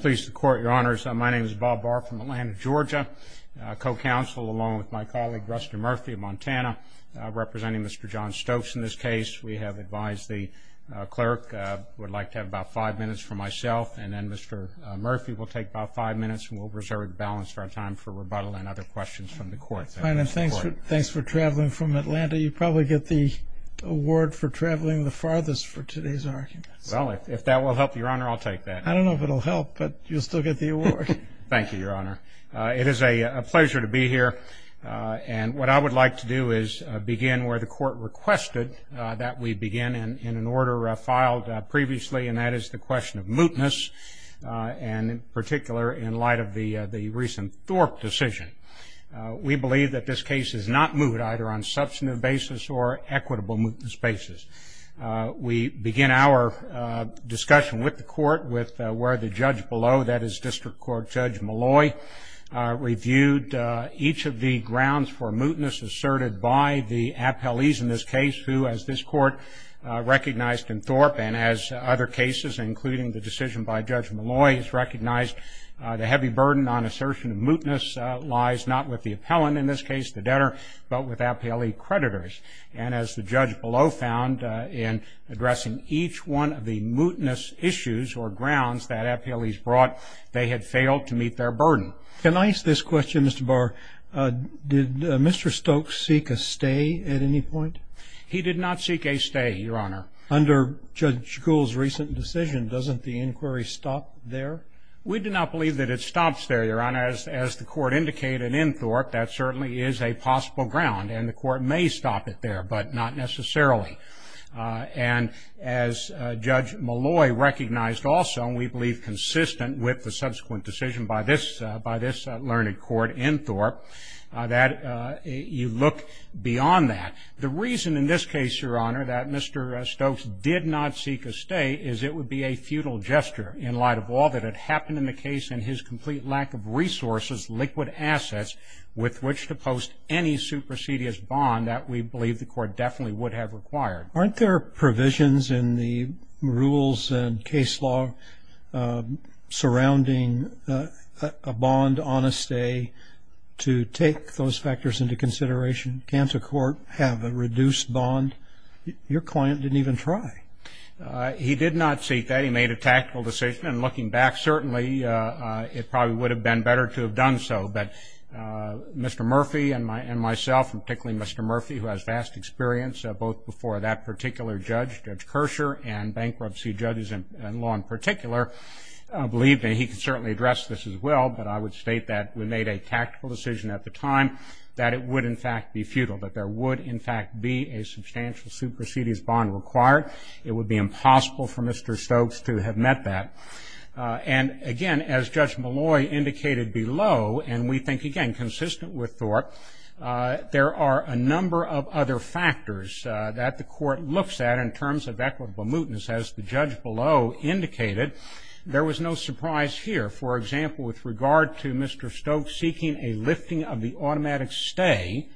Pleased to court, your honors. My name is Bob Barr from Atlanta, Georgia. Co-counsel, along with my colleague, Rusty Murphy of Montana, representing Mr. John Stokes in this case. We have advised the clerk we'd like to have about five minutes for myself, and then Mr. Murphy will take about five minutes, and we'll reserve the balance for our time for rebuttal and other questions from the court. Thanks for traveling from Atlanta. You probably get the award for traveling the farthest for today's argument. Well, if that will help you, your honor, I'll take that. I don't know if it will help, but you'll still get the award. Thank you, your honor. It is a pleasure to be here, and what I would like to do is begin where the court requested that we begin in an order filed previously, and that is the question of mootness, and in particular in light of the recent Thorpe decision. We believe that this case is not moot either on substantive basis or equitable mootness basis. We begin our discussion with the court with where the judge below, that is District Court Judge Malloy, reviewed each of the grounds for mootness asserted by the appellees in this case, who, as this court recognized in Thorpe and as other cases, including the decision by Judge Malloy, has recognized the heavy burden on assertion of mootness lies not with the appellant, in this case the debtor, but with appellee creditors, and as the judge below found in addressing each one of the mootness issues or grounds that appellees brought, they had failed to meet their burden. Can I ask this question, Mr. Barr? Did Mr. Stokes seek a stay at any point? He did not seek a stay, your honor. Under Judge Gould's recent decision, doesn't the inquiry stop there? We do not believe that it stops there, your honor. As the court indicated in Thorpe, that certainly is a possible ground, and the court may stop it there, but not necessarily. And as Judge Malloy recognized also, and we believe consistent with the subsequent decision by this learned court in Thorpe, that you look beyond that. The reason in this case, your honor, that Mr. Stokes did not seek a stay is it would be a futile gesture in light of all that had happened in the case and his complete lack of resources, liquid assets, with which to post any supersedious bond that we believe the court definitely would have required. Aren't there provisions in the rules and case law surrounding a bond on a stay to take those factors into consideration? Can't a court have a reduced bond? Your client didn't even try. He did not seek that. He made a tactical decision. And looking back, certainly it probably would have been better to have done so. But Mr. Murphy and myself, and particularly Mr. Murphy, who has vast experience, both before that particular judge, Judge Kersher, and bankruptcy judges in law in particular, believe me, he could certainly address this as well. But I would state that we made a tactical decision at the time that it would in fact be futile, that there would in fact be a substantial supersedious bond required. It would be impossible for Mr. Stokes to have met that. And, again, as Judge Malloy indicated below, and we think, again, consistent with Thorpe, there are a number of other factors that the court looks at in terms of equitable mootness. As the judge below indicated, there was no surprise here. For example, with regard to Mr. Stokes seeking a lifting of the automatic stay,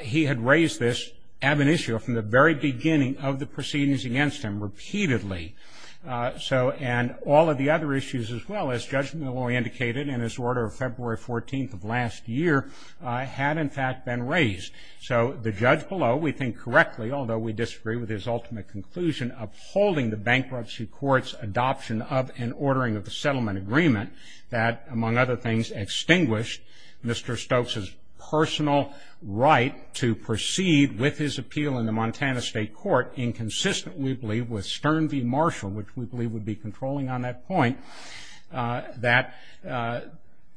he had raised this ab initio from the very beginning of the proceedings against him repeatedly. And all of the other issues as well, as Judge Malloy indicated in his order of February 14th of last year, had in fact been raised. So the judge below, we think correctly, although we disagree with his ultimate conclusion, upholding the bankruptcy court's adoption of and ordering of the settlement agreement, that, among other things, extinguished Mr. Stokes' personal right to proceed with his appeal in the Montana State Court, inconsistent, we believe, with Stern v. Marshall, which we believe would be controlling on that point, that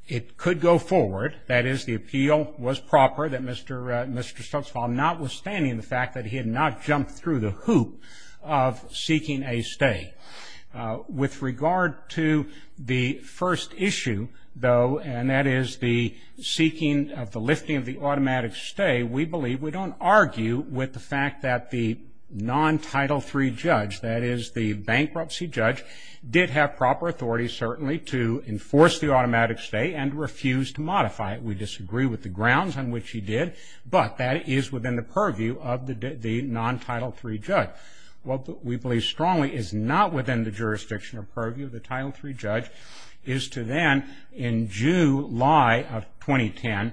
it could go forward, that is the appeal was proper, that Mr. Stokes, notwithstanding the fact that he had not jumped through the hoop of seeking a stay. With regard to the first issue, though, and that is the seeking of the lifting of the automatic stay, we believe we don't argue with the fact that the non-Title III judge, that is the bankruptcy judge, did have proper authority, certainly, to enforce the automatic stay and refuse to modify it. We disagree with the grounds on which he did, but that is within the purview of the non-Title III judge. What we believe strongly is not within the jurisdiction or purview of the Title III judge is to then, in July of 2010,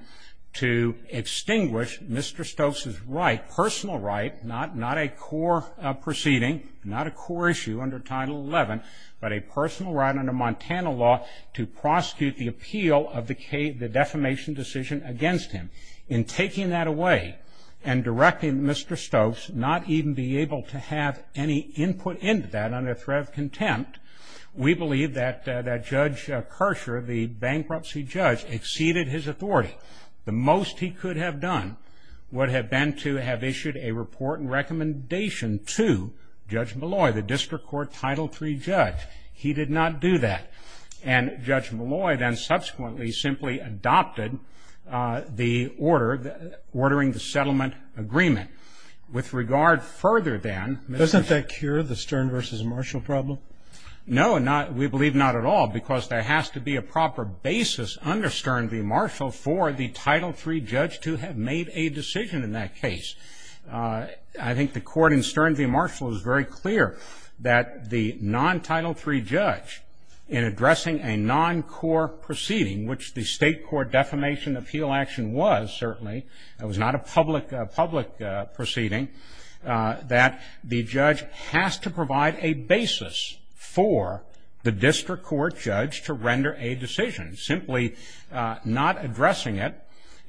to extinguish Mr. Stokes' right, personal right, not a core proceeding, not a core issue under Title XI, but a personal right under Montana law to prosecute the appeal of the defamation decision against him. In taking that away and directing Mr. Stokes not even be able to have any input into that under threat of contempt, we believe that Judge Kershaw, the bankruptcy judge, exceeded his authority. The most he could have done would have been to have issued a report and recommendation to Judge Malloy, the district court Title III judge. He did not do that. And Judge Malloy then subsequently simply adopted the order, ordering the settlement agreement. With regard further than Mr. Stokes. Doesn't that cure the Stern v. Marshall problem? No, we believe not at all because there has to be a proper basis under Stern v. Marshall for the Title III judge to have made a decision in that case. I think the court in Stern v. Marshall is very clear that the non-Title III judge, in addressing a non-core proceeding, which the state court defamation appeal action was certainly, it was not a public proceeding, that the judge has to provide a basis for the district court judge to render a decision. Simply not addressing it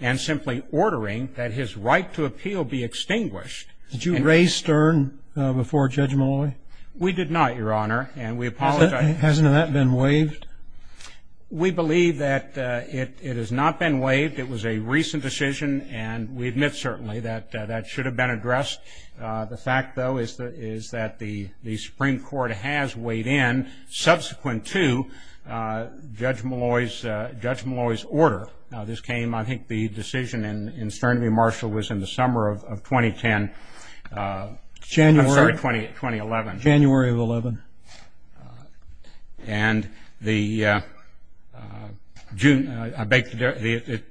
and simply ordering that his right to appeal be extinguished. Did you raise Stern before Judge Malloy? We did not, Your Honor, and we apologize. Hasn't that been waived? We believe that it has not been waived. It was a recent decision, and we admit certainly that that should have been addressed. The fact, though, is that the Supreme Court has weighed in subsequent to Judge Malloy's order. This came, I think, the decision in Stern v. Marshall was in the summer of 2010. January. I'm sorry, 2011. January of 11. And it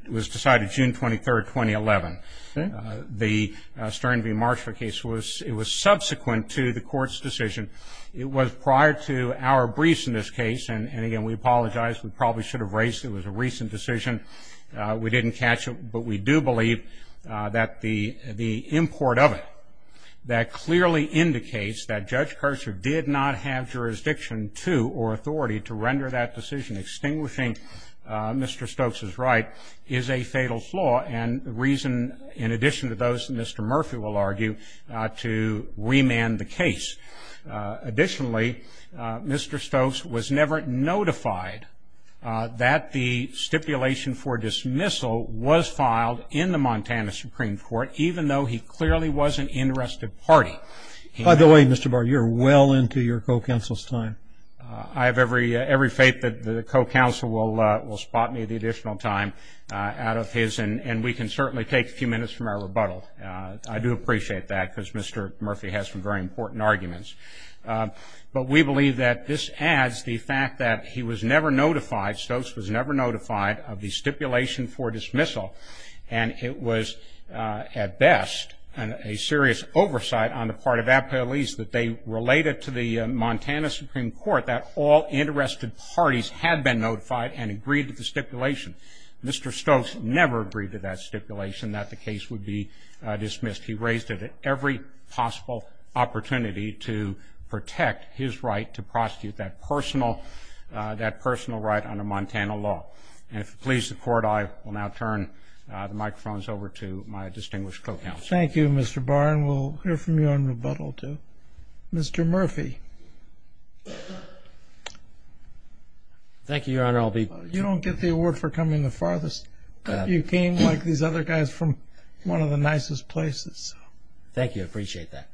was decided June 23, 2011. Okay. So the Stern v. Marshall case, it was subsequent to the court's decision. It was prior to our briefs in this case, and, again, we apologize. We probably should have raised it. It was a recent decision. We didn't catch it, but we do believe that the import of it that clearly indicates that Judge Kercher did not have jurisdiction to or authority to render that decision extinguishing Mr. Stokes' right is a fatal flaw, and the reason, in addition to those that Mr. Murphy will argue, to remand the case. Additionally, Mr. Stokes was never notified that the stipulation for dismissal was filed in the Montana Supreme Court, even though he clearly was an interested party. By the way, Mr. Barr, you're well into your co-counsel's time. I have every faith that the co-counsel will spot me at the additional time out of his, and we can certainly take a few minutes from our rebuttal. I do appreciate that because Mr. Murphy has some very important arguments. But we believe that this adds the fact that he was never notified, Stokes was never notified of the stipulation for dismissal, and it was, at best, a serious oversight on the part of the appellees that they related to the Montana Supreme Court that all interested parties had been notified and agreed to the stipulation. Mr. Stokes never agreed to that stipulation that the case would be dismissed. He raised it at every possible opportunity to protect his right to prosecute that personal right under Montana law. And if you'll please support, I will now turn the microphones over to my distinguished co-counsel. Thank you, Mr. Barr. And we'll hear from you on rebuttal, too. Mr. Murphy. Thank you, Your Honor. You don't get the award for coming the farthest. You came, like these other guys, from one of the nicest places. Thank you. I appreciate that.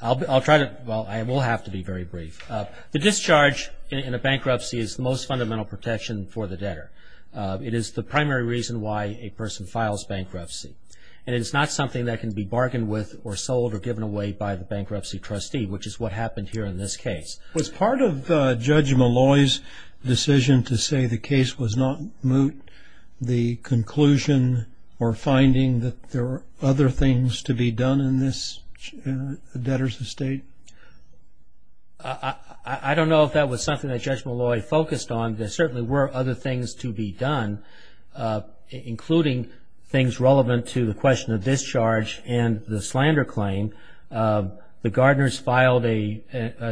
I'll try to – well, I will have to be very brief. The discharge in a bankruptcy is the most fundamental protection for the debtor. It is the primary reason why a person files bankruptcy, and it is not something that can be bargained with or sold or given away by the bankruptcy trustee, which is what happened here in this case. Was part of Judge Malloy's decision to say the case was not moot the conclusion or finding that there were other things to be done in this debtor's estate? I don't know if that was something that Judge Malloy focused on. There certainly were other things to be done, including things relevant to the question of discharge and the slander claim. The Gardners filed an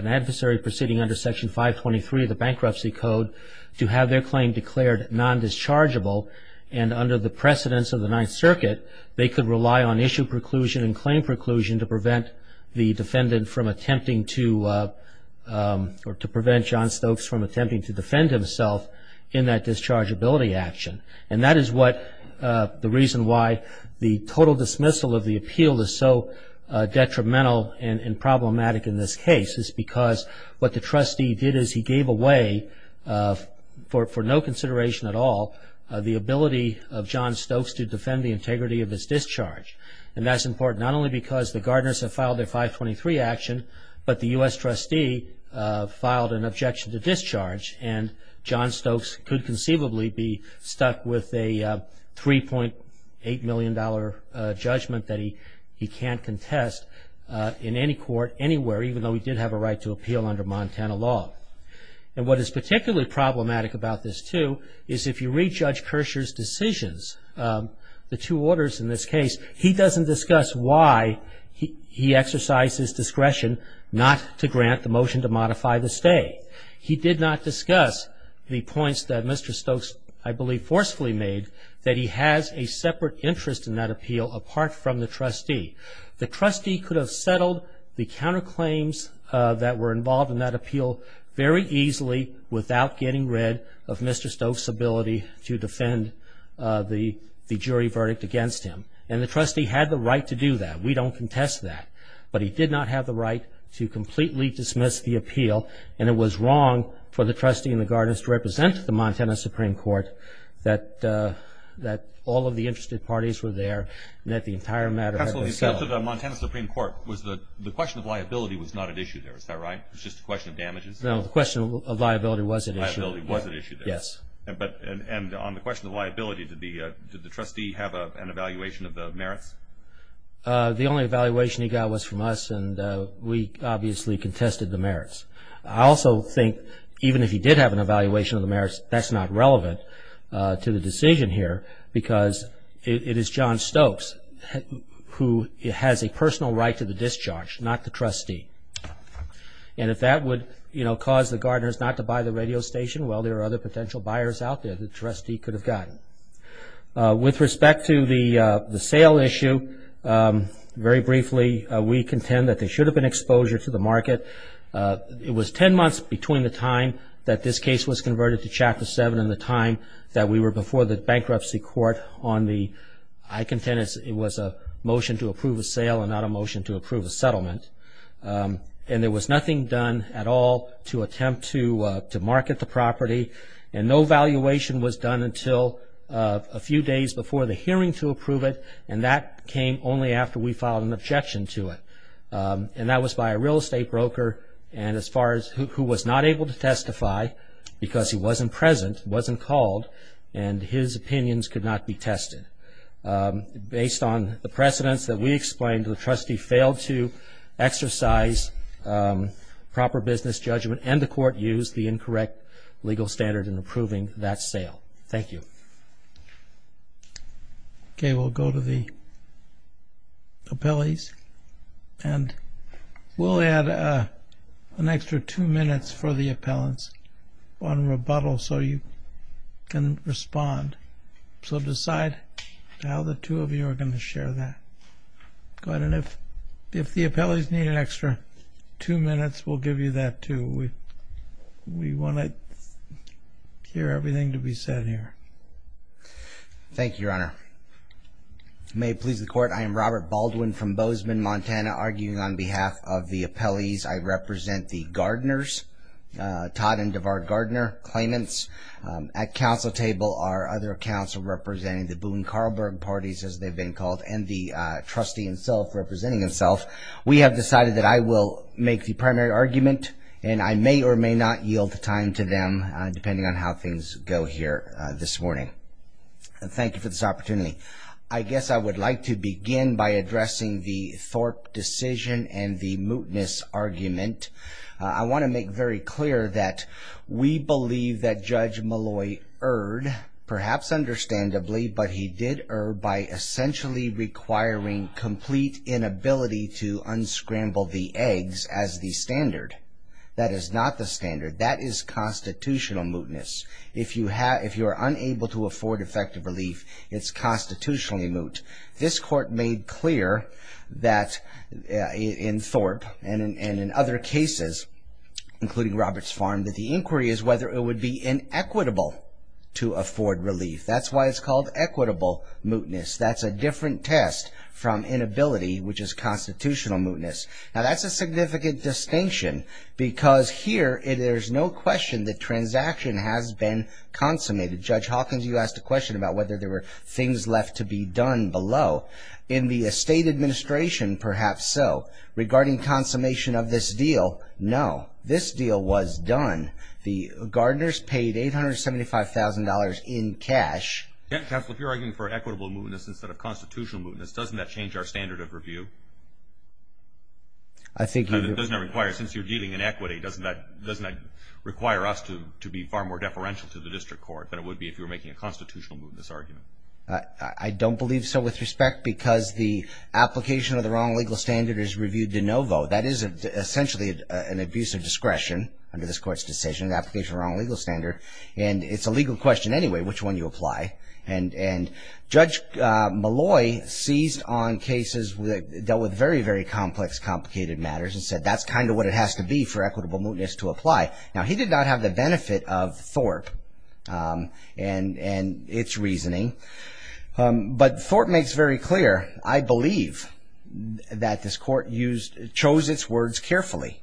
adversary proceeding under Section 523 of the Bankruptcy Code to have their claim declared non-dischargeable, and under the precedence of the Ninth Circuit, they could rely on issue preclusion and claim preclusion to prevent the defendant from attempting to – or to prevent John Stokes from attempting to defend himself in that dischargeability action. And that is what – the reason why the total dismissal of the appeal is so detrimental and problematic in this case is because what the trustee did is he gave away, for no consideration at all, the ability of John Stokes to defend the integrity of his discharge. And that's important, not only because the Gardners have filed their 523 action, but the U.S. trustee filed an objection to discharge, and John Stokes could conceivably be stuck with a $3.8 million judgment that he can't contest in any court anywhere, even though he did have a right to appeal under Montana law. And what is particularly problematic about this, too, is if you read Judge Kershaw's decisions, the two orders in this case, he doesn't discuss why he exercised his discretion not to grant the motion to modify the stay. He did not discuss the points that Mr. Stokes, I believe, forcefully made that he has a separate interest in that appeal apart from the trustee. The trustee could have settled the counterclaims that were involved in that appeal very easily without getting rid of Mr. Stokes' ability to defend the jury verdict against him. And the trustee had the right to do that. We don't contest that. But he did not have the right to completely dismiss the appeal, and it was wrong for the trustee and the Gardners to represent the Montana Supreme Court, that all of the interested parties were there, and that the entire matter had been settled. The Montana Supreme Court, the question of liability was not at issue there. Is that right? It was just a question of damages. No, the question of liability was at issue. Liability was at issue there. Yes. And on the question of liability, did the trustee have an evaluation of the merits? The only evaluation he got was from us, and we obviously contested the merits. I also think even if he did have an evaluation of the merits, that's not relevant to the decision here, because it is John Stokes who has a personal right to the discharge, not the trustee. And if that would cause the Gardners not to buy the radio station, well, there are other potential buyers out there the trustee could have gotten. With respect to the sale issue, very briefly, we contend that there should have been exposure to the market. It was ten months between the time that this case was converted to Chapter 7 and the time that we were before the bankruptcy court on the – I contend it was a motion to approve a sale and not a motion to approve a settlement. And there was nothing done at all to attempt to market the property, and no valuation was done until a few days before the hearing to approve it, and that came only after we filed an objection to it. And that was by a real estate broker, and as far as – who was not able to testify because he wasn't present, wasn't called, and his opinions could not be tested. Based on the precedents that we explained, the trustee failed to exercise proper business judgment, and the court used the incorrect legal standard in approving that sale. Thank you. Okay, we'll go to the appellees, and we'll add an extra two minutes for the appellants on rebuttal so you can respond. So decide how the two of you are going to share that. Go ahead, and if the appellees need an extra two minutes, we'll give you that too. We want to hear everything to be said here. Thank you, Your Honor. May it please the Court, I am Robert Baldwin from Bozeman, Montana, arguing on behalf of the appellees. I represent the Gardners, Todd and DeVard Gardner claimants at counsel table, our other counsel representing the Boone-Karlberg parties, as they've been called, and the trustee himself representing himself. We have decided that I will make the primary argument, and I may or may not yield the time to them, depending on how things go here this morning. Thank you for this opportunity. I guess I would like to begin by addressing the Thorpe decision and the mootness argument. I want to make very clear that we believe that Judge Malloy erred, perhaps understandably, but he did err by essentially requiring complete inability to unscramble the eggs as the standard. That is not the standard. That is constitutional mootness. If you are unable to afford effective relief, it's constitutionally moot. This Court made clear that in Thorpe and in other cases, including Roberts Farm, that the inquiry is whether it would be inequitable to afford relief. That's why it's called equitable mootness. That's a different test from inability, which is constitutional mootness. Now, that's a significant distinction, because here there's no question that transaction has been consummated. Judge Hawkins, you asked a question about whether there were things left to be done below. In the estate administration, perhaps so. Regarding consummation of this deal, no. This deal was done. The Gardners paid $875,000 in cash. Counsel, if you're arguing for equitable mootness instead of constitutional mootness, doesn't that change our standard of review? I think you do. Since you're dealing in equity, doesn't that require us to be far more deferential to the district court than it would be if you were making a constitutional mootness argument? I don't believe so with respect, because the application of the wrong legal standard is reviewed de novo. That is essentially an abuse of discretion under this court's decision, an application of the wrong legal standard. And it's a legal question anyway, which one you apply. And Judge Malloy seized on cases that dealt with very, very complex, complicated matters and said that's kind of what it has to be for equitable mootness to apply. Now, he did not have the benefit of Thorpe and its reasoning. But Thorpe makes very clear, I believe, that this court chose its words carefully.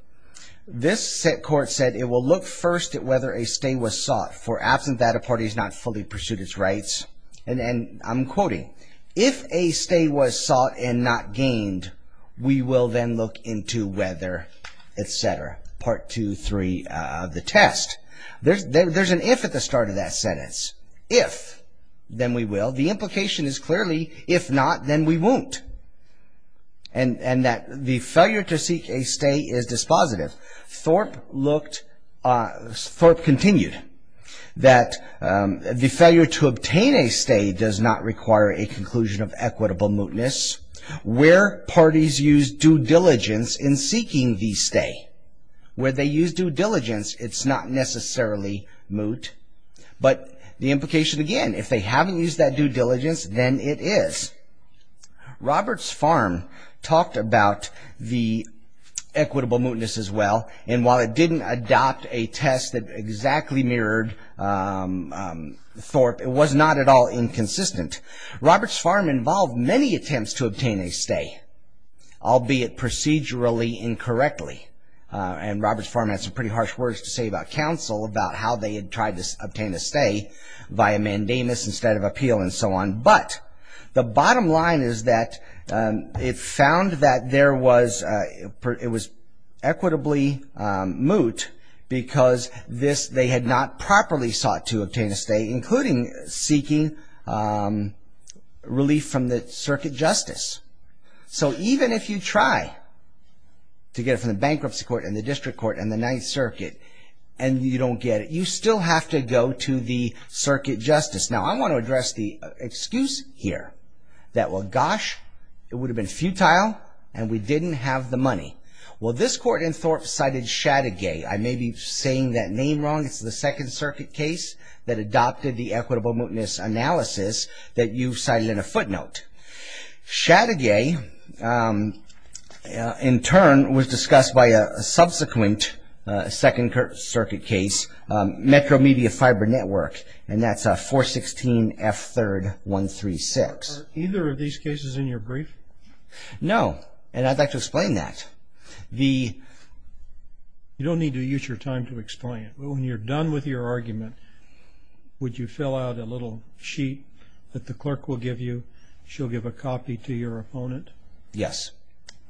This court said it will look first at whether a stay was sought, for absent that a party has not fully pursued its rights. And I'm quoting, if a stay was sought and not gained, we will then look into whether etc. Part two, three, the test. There's an if at the start of that sentence. If, then we will. The implication is clearly, if not, then we won't. And that the failure to seek a stay is dispositive. Thorpe continued that the failure to obtain a stay does not require a conclusion of equitable mootness. Where parties use due diligence in seeking the stay, where they use due diligence, it's not necessarily moot. But the implication again, if they haven't used that due diligence, then it is. Roberts Farm talked about the equitable mootness as well. And while it didn't adopt a test that exactly mirrored Thorpe, it was not at all inconsistent. Roberts Farm involved many attempts to obtain a stay, albeit procedurally incorrectly. And Roberts Farm had some pretty harsh words to say about counsel, about how they had tried to obtain a stay via mandamus instead of appeal and so on. But the bottom line is that it found that it was equitably moot, because they had not properly sought to obtain a stay, including seeking relief from the circuit justice. So even if you try to get it from the bankruptcy court and the district court and the Ninth Circuit, and you don't get it, you still have to go to the circuit justice. Now, I want to address the excuse here that, well, gosh, it would have been futile and we didn't have the money. Well, this court in Thorpe cited Shattigay. I may be saying that name wrong. It's the Second Circuit case that adopted the equitable mootness analysis that you cited in a footnote. Shattigay, in turn, was discussed by a subsequent Second Circuit case, Metro Media Fiber Network, and that's 416F3136. Are either of these cases in your brief? No, and I'd like to explain that. You don't need to use your time to explain it, but when you're done with your argument, would you fill out a little sheet that the clerk will give you? She'll give a copy to your opponent? Yes,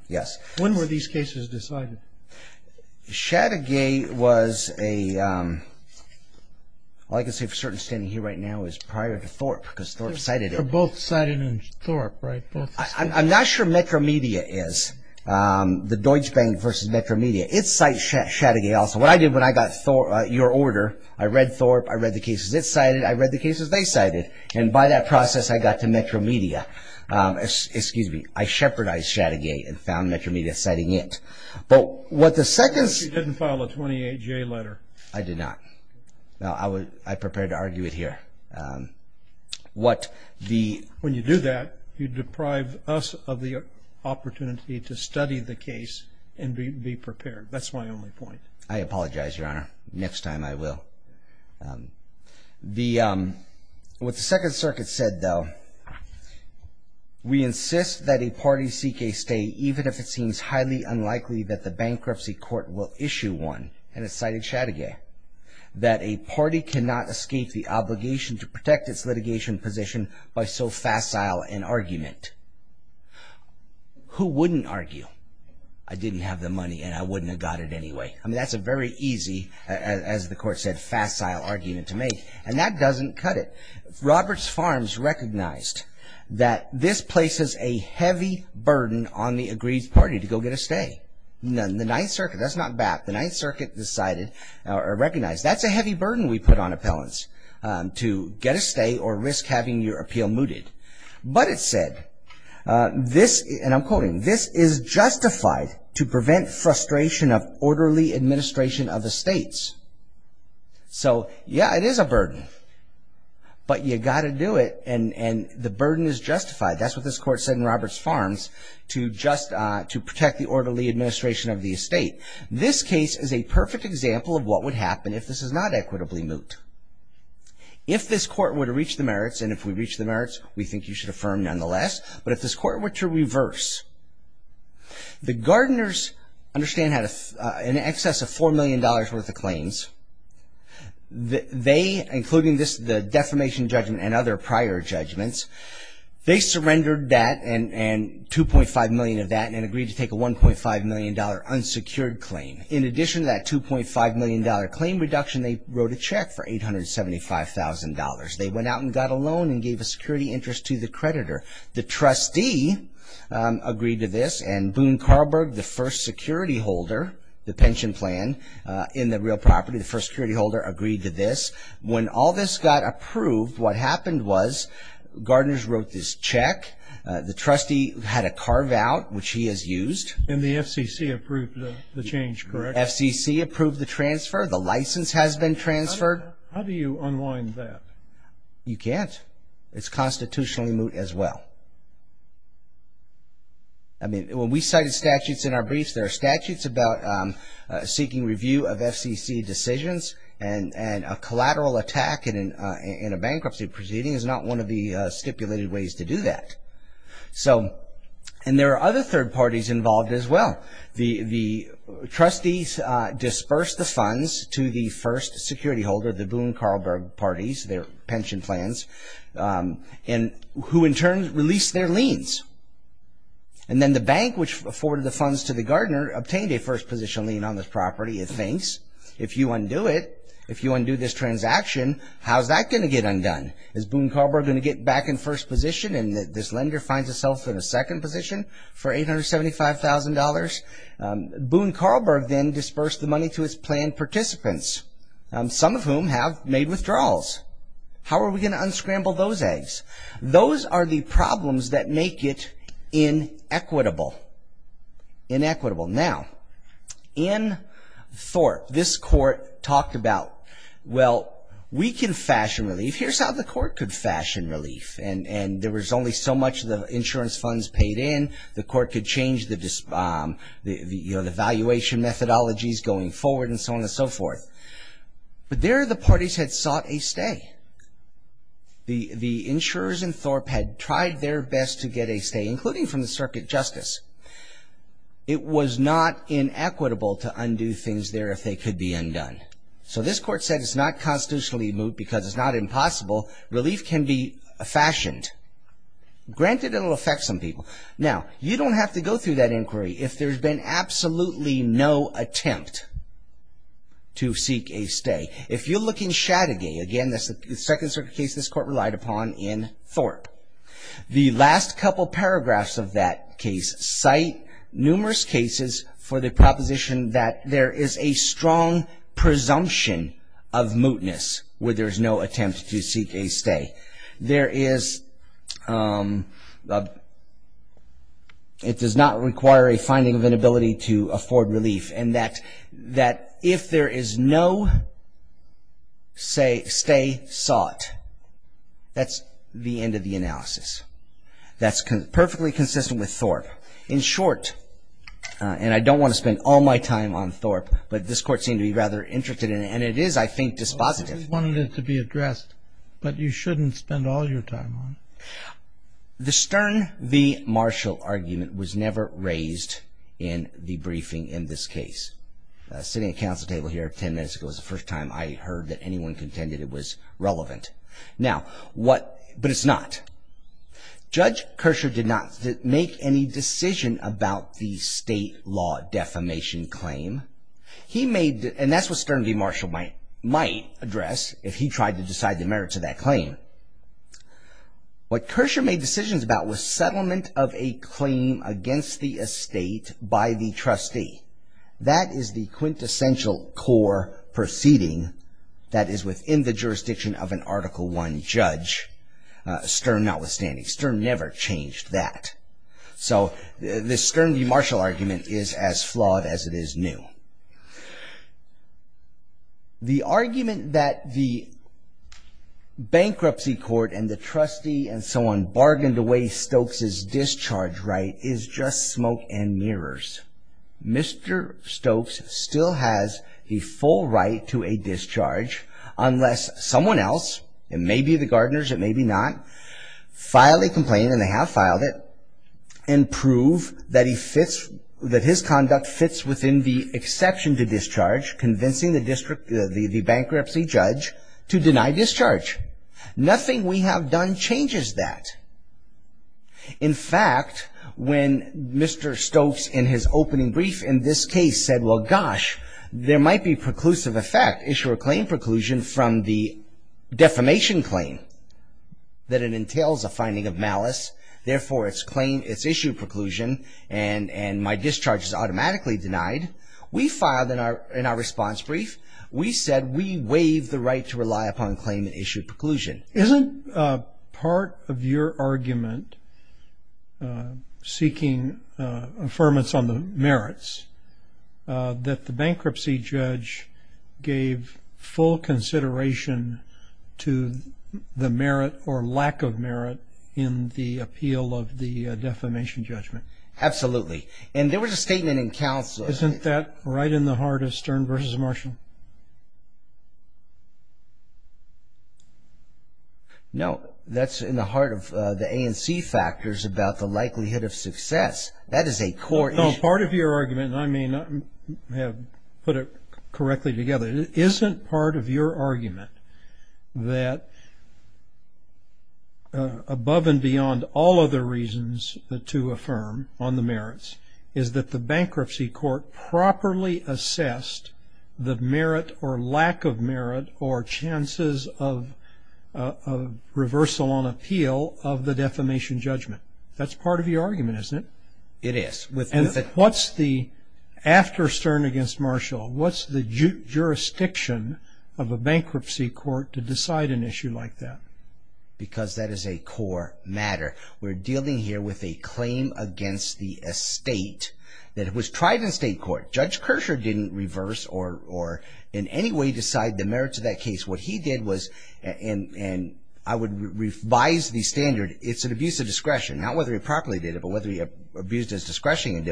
yes. When were these cases decided? Shattigay was a, well, I can say for certain standing here right now, it was prior to Thorpe because Thorpe cited it. They're both cited in Thorpe, right? I'm not sure Metro Media is. The Deutsche Bank versus Metro Media, it cites Shattigay also. What I did when I got your order, I read Thorpe, I read the cases it cited, I read the cases they cited, and by that process I got to Metro Media. Excuse me. I shepherdized Shattigay and found Metro Media citing it. But what the Seconds... You didn't file a 28-J letter. I did not. I prepared to argue it here. When you do that, you deprive us of the opportunity to study the case and be prepared. That's my only point. I apologize, Your Honor. Next time I will. What the Second Circuit said, though, we insist that a party seek a stay even if it seems highly unlikely that the bankruptcy court will issue one, and it cited Shattigay, that a party cannot escape the obligation to protect its litigation position by so facile an argument. Who wouldn't argue? I didn't have the money and I wouldn't have got it anyway. I mean, that's a very easy, as the court said, facile argument to make. And that doesn't cut it. Roberts Farms recognized that this places a heavy burden on the agreed party to go get a stay. The Ninth Circuit, that's not BAP, the Ninth Circuit decided, or recognized, that's a heavy burden we put on appellants to get a stay or risk having your appeal mooted. But it said, and I'm quoting, this is justified to prevent frustration of orderly administration of estates. So, yeah, it is a burden. But you got to do it and the burden is justified. That's what this court said in Roberts Farms to protect the orderly administration of the estate. This case is a perfect example of what would happen if this is not equitably moot. If this court were to reach the merits, and if we reach the merits, we think you should affirm nonetheless. But if this court were to reverse, the Gardeners, understand, had an excess of $4 million worth of claims. They, including the defamation judgment and other prior judgments, they surrendered that and $2.5 million of that and agreed to take a $1.5 million unsecured claim. In addition to that $2.5 million claim reduction, they wrote a check for $875,000. They went out and got a loan and gave a security interest to the creditor. The trustee agreed to this and Boone Carlberg, the first security holder, the pension plan in the real property, the first security holder, agreed to this. When all this got approved, what happened was Gardeners wrote this check. The trustee had a carve-out, which he has used. And the FCC approved the change, correct? The FCC approved the transfer. The license has been transferred. How do you unwind that? You can't. It's constitutionally moot as well. I mean, when we cited statutes in our briefs, there are statutes about seeking review of FCC decisions and a collateral attack in a bankruptcy proceeding is not one of the stipulated ways to do that. And there are other third parties involved as well. The trustees dispersed the funds to the first security holder, the Boone Carlberg parties, their pension plans, who in turn released their liens. And then the bank, which afforded the funds to the Gardener, obtained a first position lien on this property, it thinks. If you undo it, if you undo this transaction, how's that going to get undone? Is Boone Carlberg going to get back in first position and this lender finds itself in a second position for $875,000? Boone Carlberg then dispersed the money to his plan participants, some of whom have made withdrawals. How are we going to unscramble those eggs? Those are the problems that make it inequitable. Inequitable. Now, in Thorpe, this court talked about, well, we can fashion relief. Here's how the court could fashion relief. And there was only so much of the insurance funds paid in. The court could change the valuation methodologies going forward and so on and so forth. But there the parties had sought a stay. The insurers in Thorpe had tried their best to get a stay, including from the circuit justice. It was not inequitable to undo things there if they could be undone. So this court said it's not constitutionally moot because it's not impossible. Relief can be fashioned. Granted, it'll affect some people. Now, you don't have to go through that inquiry if there's been absolutely no attempt to seek a stay. If you look in Shattigay, again, that's the second circuit case this court relied upon in Thorpe. The last couple paragraphs of that case cite numerous cases for the proposition that there is a strong presumption of mootness where there's no attempt to seek a stay. It does not require a finding of inability to afford relief, and that if there is no stay sought, that's the end of the analysis. That's perfectly consistent with Thorpe. In short, and I don't want to spend all my time on Thorpe, but this court seemed to be rather interested in it, and it is, I think, dispositive. I wanted it to be addressed, but you shouldn't spend all your time on it. The Stern v. Marshall argument was never raised in the briefing in this case. Sitting at the council table here 10 minutes ago was the first time I heard that anyone contended it was relevant. Now, what – but it's not. Judge Kershaw did not make any decision about the state law defamation claim. He made – and that's what Stern v. Marshall might address if he tried to decide the merits of that claim. What Kershaw made decisions about was settlement of a claim against the estate by the trustee. That is the quintessential core proceeding that is within the jurisdiction of an Article I judge. Stern notwithstanding. Stern never changed that. So the Stern v. Marshall argument is as flawed as it is new. The argument that the bankruptcy court and the trustee and so on bargained away Stokes' discharge right is just smoke and mirrors. Mr. Stokes still has a full right to a discharge, unless someone else – it may be the Gardeners, it may be not – file a complaint, and they have filed it, and prove that he fits – that his conduct fits within the exception to discharge, convincing the bankruptcy judge to deny discharge. Nothing we have done changes that. In fact, when Mr. Stokes in his opening brief in this case said, well, gosh, there might be preclusive effect, issue a claim preclusion from the defamation claim, that it entails a finding of malice, therefore it's claim – it's issued preclusion, and my discharge is automatically denied, we filed in our response brief, we said we waive the right to rely upon claim and issue preclusion. Isn't part of your argument seeking affirmance on the merits that the bankruptcy judge gave full consideration to the merit or lack of merit in the appeal of the defamation judgment? Absolutely. And there was a statement in counsel – Is that right in the heart of Stern v. Marshall? No, that's in the heart of the ANC factors about the likelihood of success. That is a core issue. No, part of your argument, and I may not have put it correctly together, isn't part of your argument that above and beyond all other reasons to affirm on the merits is that the bankruptcy court properly assessed the merit or lack of merit or chances of reversal on appeal of the defamation judgment? That's part of your argument, isn't it? It is. And what's the – after Stern v. Marshall, what's the jurisdiction of a bankruptcy court to decide an issue like that? Because that is a core matter. We're dealing here with a claim against the estate that was tried in state court. Judge Kershaw didn't reverse or in any way decide the merits of that case. What he did was – and I would revise the standard. It's an abuse of discretion, not whether he properly did it, but whether he abused his discretion in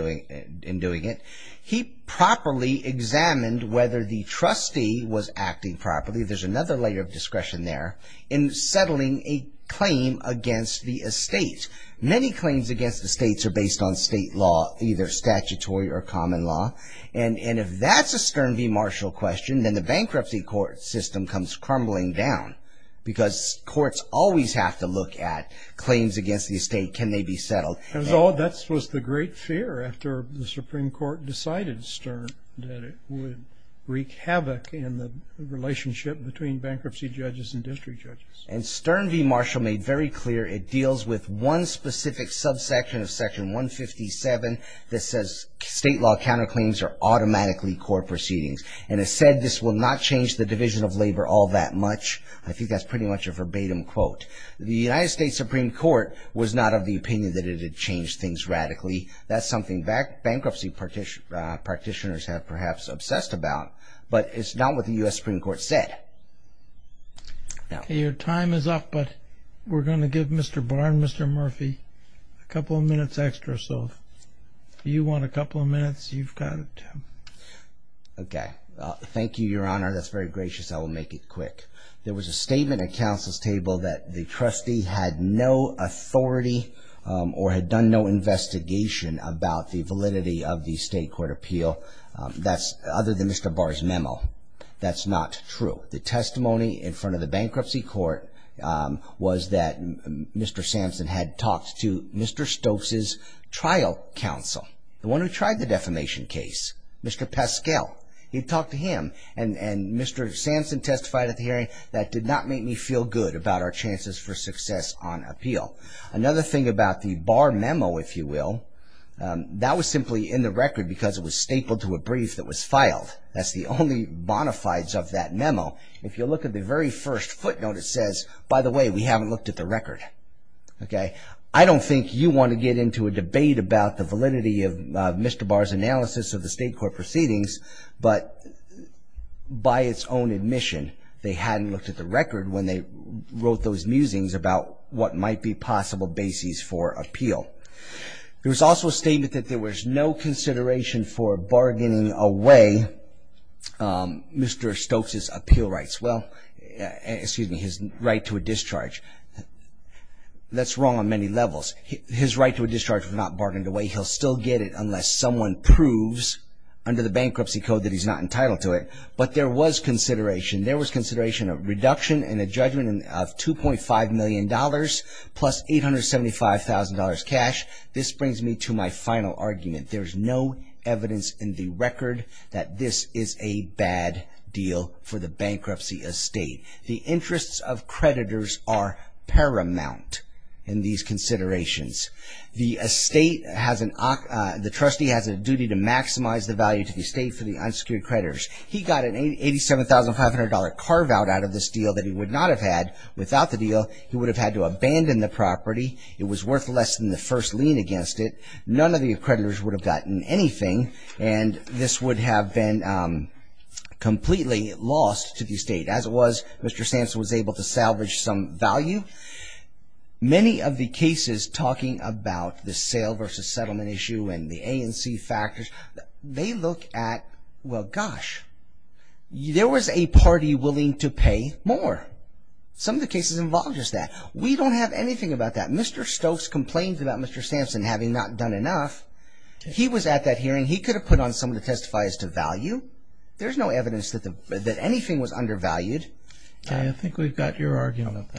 doing it. He properly examined whether the trustee was acting properly. I believe there's another layer of discretion there in settling a claim against the estate. Many claims against the states are based on state law, either statutory or common law. And if that's a Stern v. Marshall question, then the bankruptcy court system comes crumbling down because courts always have to look at claims against the estate. Can they be settled? That was the great fear after the Supreme Court decided Stern, that it would wreak havoc in the relationship between bankruptcy judges and district judges. And Stern v. Marshall made very clear it deals with one specific subsection of Section 157 that says state law counterclaims are automatically court proceedings. And it said this will not change the division of labor all that much. I think that's pretty much a verbatim quote. The United States Supreme Court was not of the opinion that it had changed things radically. That's something bankruptcy practitioners have perhaps obsessed about. But it's not what the U.S. Supreme Court said. Your time is up, but we're going to give Mr. Barn, Mr. Murphy, a couple of minutes extra. So if you want a couple of minutes, you've got it, Tim. Okay. Thank you, Your Honor. That's very gracious. I will make it quick. There was a statement at counsel's table that the trustee had no authority or had done no investigation about the validity of the state court appeal, other than Mr. Barr's memo. That's not true. The testimony in front of the bankruptcy court was that Mr. Samson had talked to Mr. Stokes' trial counsel, the one who tried the defamation case, Mr. Pascal. He talked to him. And Mr. Samson testified at the hearing, that did not make me feel good about our chances for success on appeal. Another thing about the Barr memo, if you will, that was simply in the record because it was stapled to a brief that was filed. That's the only bona fides of that memo. If you look at the very first footnote, it says, by the way, we haven't looked at the record. I don't think you want to get into a debate about the validity of Mr. Barr's analysis of the state court proceedings, but by its own admission, they hadn't looked at the record when they wrote those musings about what might be possible bases for appeal. There was also a statement that there was no consideration for bargaining away Mr. Stokes' appeal rights. Well, excuse me, his right to a discharge. That's wrong on many levels. His right to a discharge was not bargained away. He'll still get it unless someone proves under the bankruptcy code that he's not entitled to it. But there was consideration. There was consideration of reduction and a judgment of $2.5 million plus $875,000 cash. This brings me to my final argument. There's no evidence in the record that this is a bad deal for the bankruptcy estate. The interests of creditors are paramount in these considerations. The trustee has a duty to maximize the value to the estate for the unsecured creditors. He got an $87,500 carve-out out of this deal that he would not have had without the deal. He would have had to abandon the property. It was worth less than the first lien against it. None of the creditors would have gotten anything, and this would have been completely lost to the estate. As it was, Mr. Samson was able to salvage some value. Many of the cases talking about the sale versus settlement issue and the A and C factors, they look at, well, gosh, there was a party willing to pay more. Some of the cases involved just that. We don't have anything about that. Mr. Stokes complained about Mr. Samson having not done enough. He was at that hearing. He could have put on someone to testify as to value. There's no evidence that anything was undervalued. I think we've got your argument.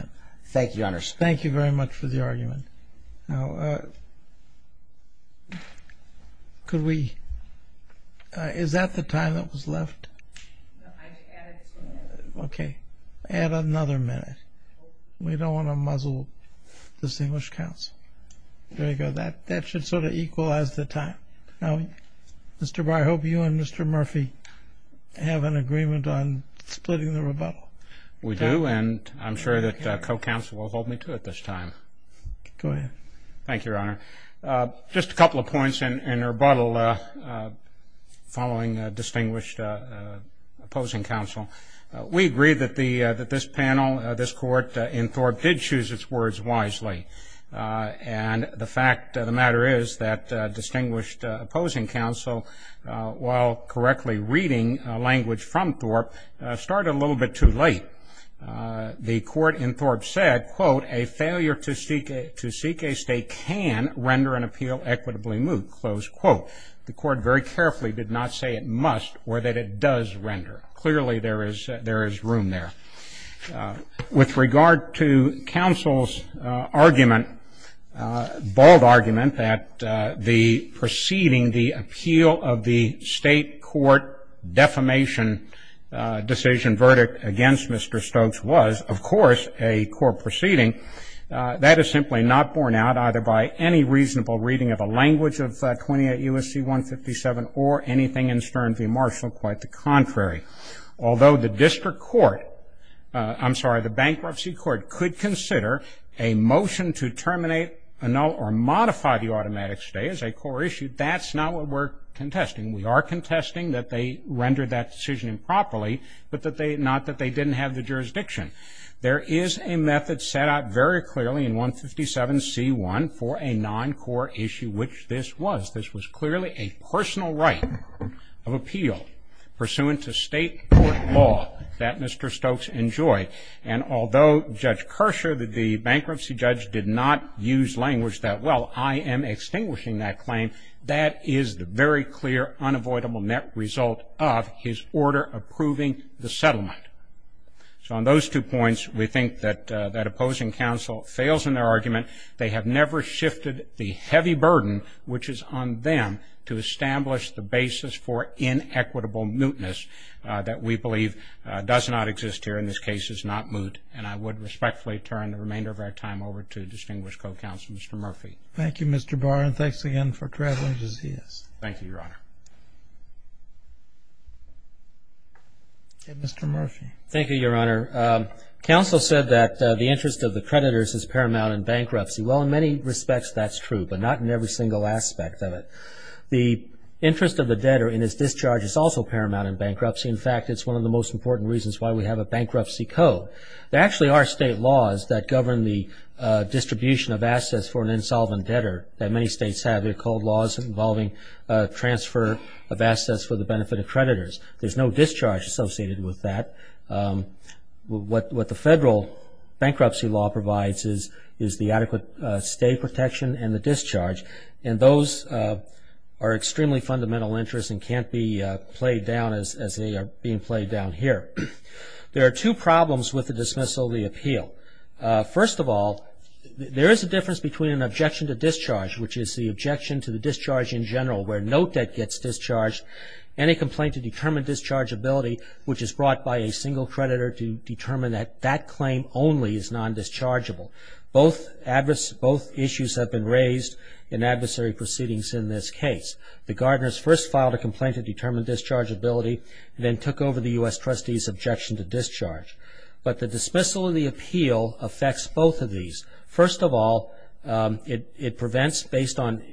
Thank you, Your Honor. Thank you very much for the argument. Now, could we – is that the time that was left? No, I added two minutes. Okay. Add another minute. We don't want to muzzle this English counsel. There you go. That should sort of equalize the time. Now, Mr. Barr, I hope you and Mr. Murphy have an agreement on splitting the rebuttal. We do, and I'm sure that co-counsel will hold me to it this time. Go ahead. Thank you, Your Honor. Just a couple of points in rebuttal following distinguished opposing counsel. We agree that this panel, this court in Thorpe, did choose its words wisely. And the fact of the matter is that distinguished opposing counsel, while correctly reading language from Thorpe, started a little bit too late. The court in Thorpe said, quote, a failure to seek a stake can render an appeal equitably moot, close quote. The court very carefully did not say it must or that it does render. Clearly, there is room there. With regard to counsel's argument, bold argument that the proceeding, the appeal of the state court defamation decision, verdict against Mr. Stokes was, of course, a court proceeding. That is simply not borne out either by any reasonable reading of a language of 28 U.S.C. 157 or anything in Stern v. Marshall. Quite the contrary. Although the district court, I'm sorry, the bankruptcy court, could consider a motion to terminate or modify the automatic stay as a core issue, that's not what we're contesting. We are contesting that they rendered that decision improperly, but not that they didn't have the jurisdiction. There is a method set out very clearly in 157C1 for a non-core issue, which this was. This was clearly a personal right of appeal pursuant to state court law that Mr. Stokes enjoyed. And although Judge Kershaw, the bankruptcy judge, did not use language that, well, I am extinguishing that claim, that is the very clear unavoidable net result of his order approving the settlement. So on those two points, we think that that opposing counsel fails in their argument. They have never shifted the heavy burden, which is on them to establish the basis for inequitable mootness that we believe does not exist here. In this case, it's not moot. And I would respectfully turn the remainder of our time over to distinguished co-counsel, Mr. Murphy. Thank you, Mr. Barr, and thanks again for traveling to see us. Thank you, Your Honor. Mr. Murphy. Thank you, Your Honor. Counsel said that the interest of the creditors is paramount in bankruptcy. Well, in many respects, that's true, but not in every single aspect of it. The interest of the debtor in his discharge is also paramount in bankruptcy. In fact, it's one of the most important reasons why we have a bankruptcy code. There actually are state laws that govern the distribution of assets for an insolvent debtor that many states have. They're called laws involving transfer of assets for the benefit of creditors. There's no discharge associated with that. What the federal bankruptcy law provides is the adequate stay protection and the discharge, and those are extremely fundamental interests and can't be played down as they are being played down here. There are two problems with the dismissal of the appeal. First of all, there is a difference between an objection to discharge, which is the objection to the discharge in general where no debt gets discharged and a complaint to determine dischargeability, which is brought by a single creditor to determine that that claim only is non-dischargeable. Both issues have been raised in adversary proceedings in this case. The Gardners first filed a complaint to determine dischargeability and then took over the U.S. trustee's objection to discharge. But the dismissal of the appeal affects both of these. First of all, it prevents, based on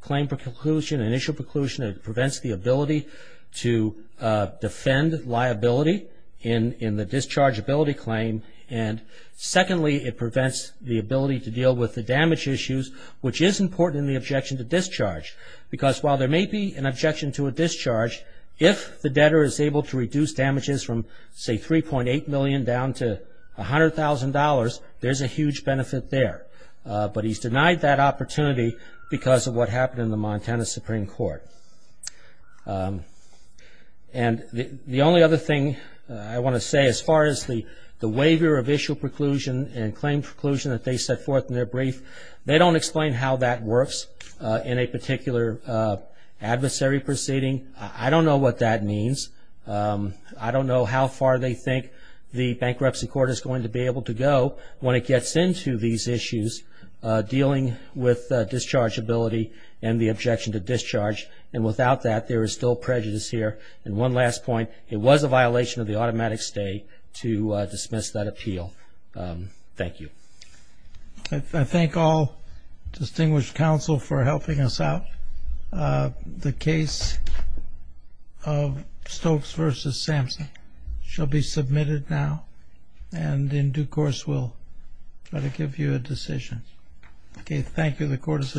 claim preclusion, initial preclusion, it prevents the ability to defend liability in the dischargeability claim, and secondly, it prevents the ability to deal with the damage issues, which is important in the objection to discharge, because while there may be an objection to a discharge, if the debtor is able to reduce damages from, say, $3.8 million down to $100,000, there's a huge benefit there. But he's denied that opportunity because of what happened in the Montana Supreme Court. And the only other thing I want to say as far as the waiver of issue preclusion and claim preclusion that they set forth in their brief, they don't explain how that works in a particular adversary proceeding. I don't know what that means. I don't know how far they think the bankruptcy court is going to be able to go when it gets into these issues dealing with dischargeability and the objection to discharge. And without that, there is still prejudice here. And one last point, it was a violation of the automatic stay to dismiss that appeal. Thank you. I thank all distinguished counsel for helping us out. The case of Stokes v. Sampson shall be submitted now, and in due course we'll try to give you a decision. Okay, thank you. The court is adjourned.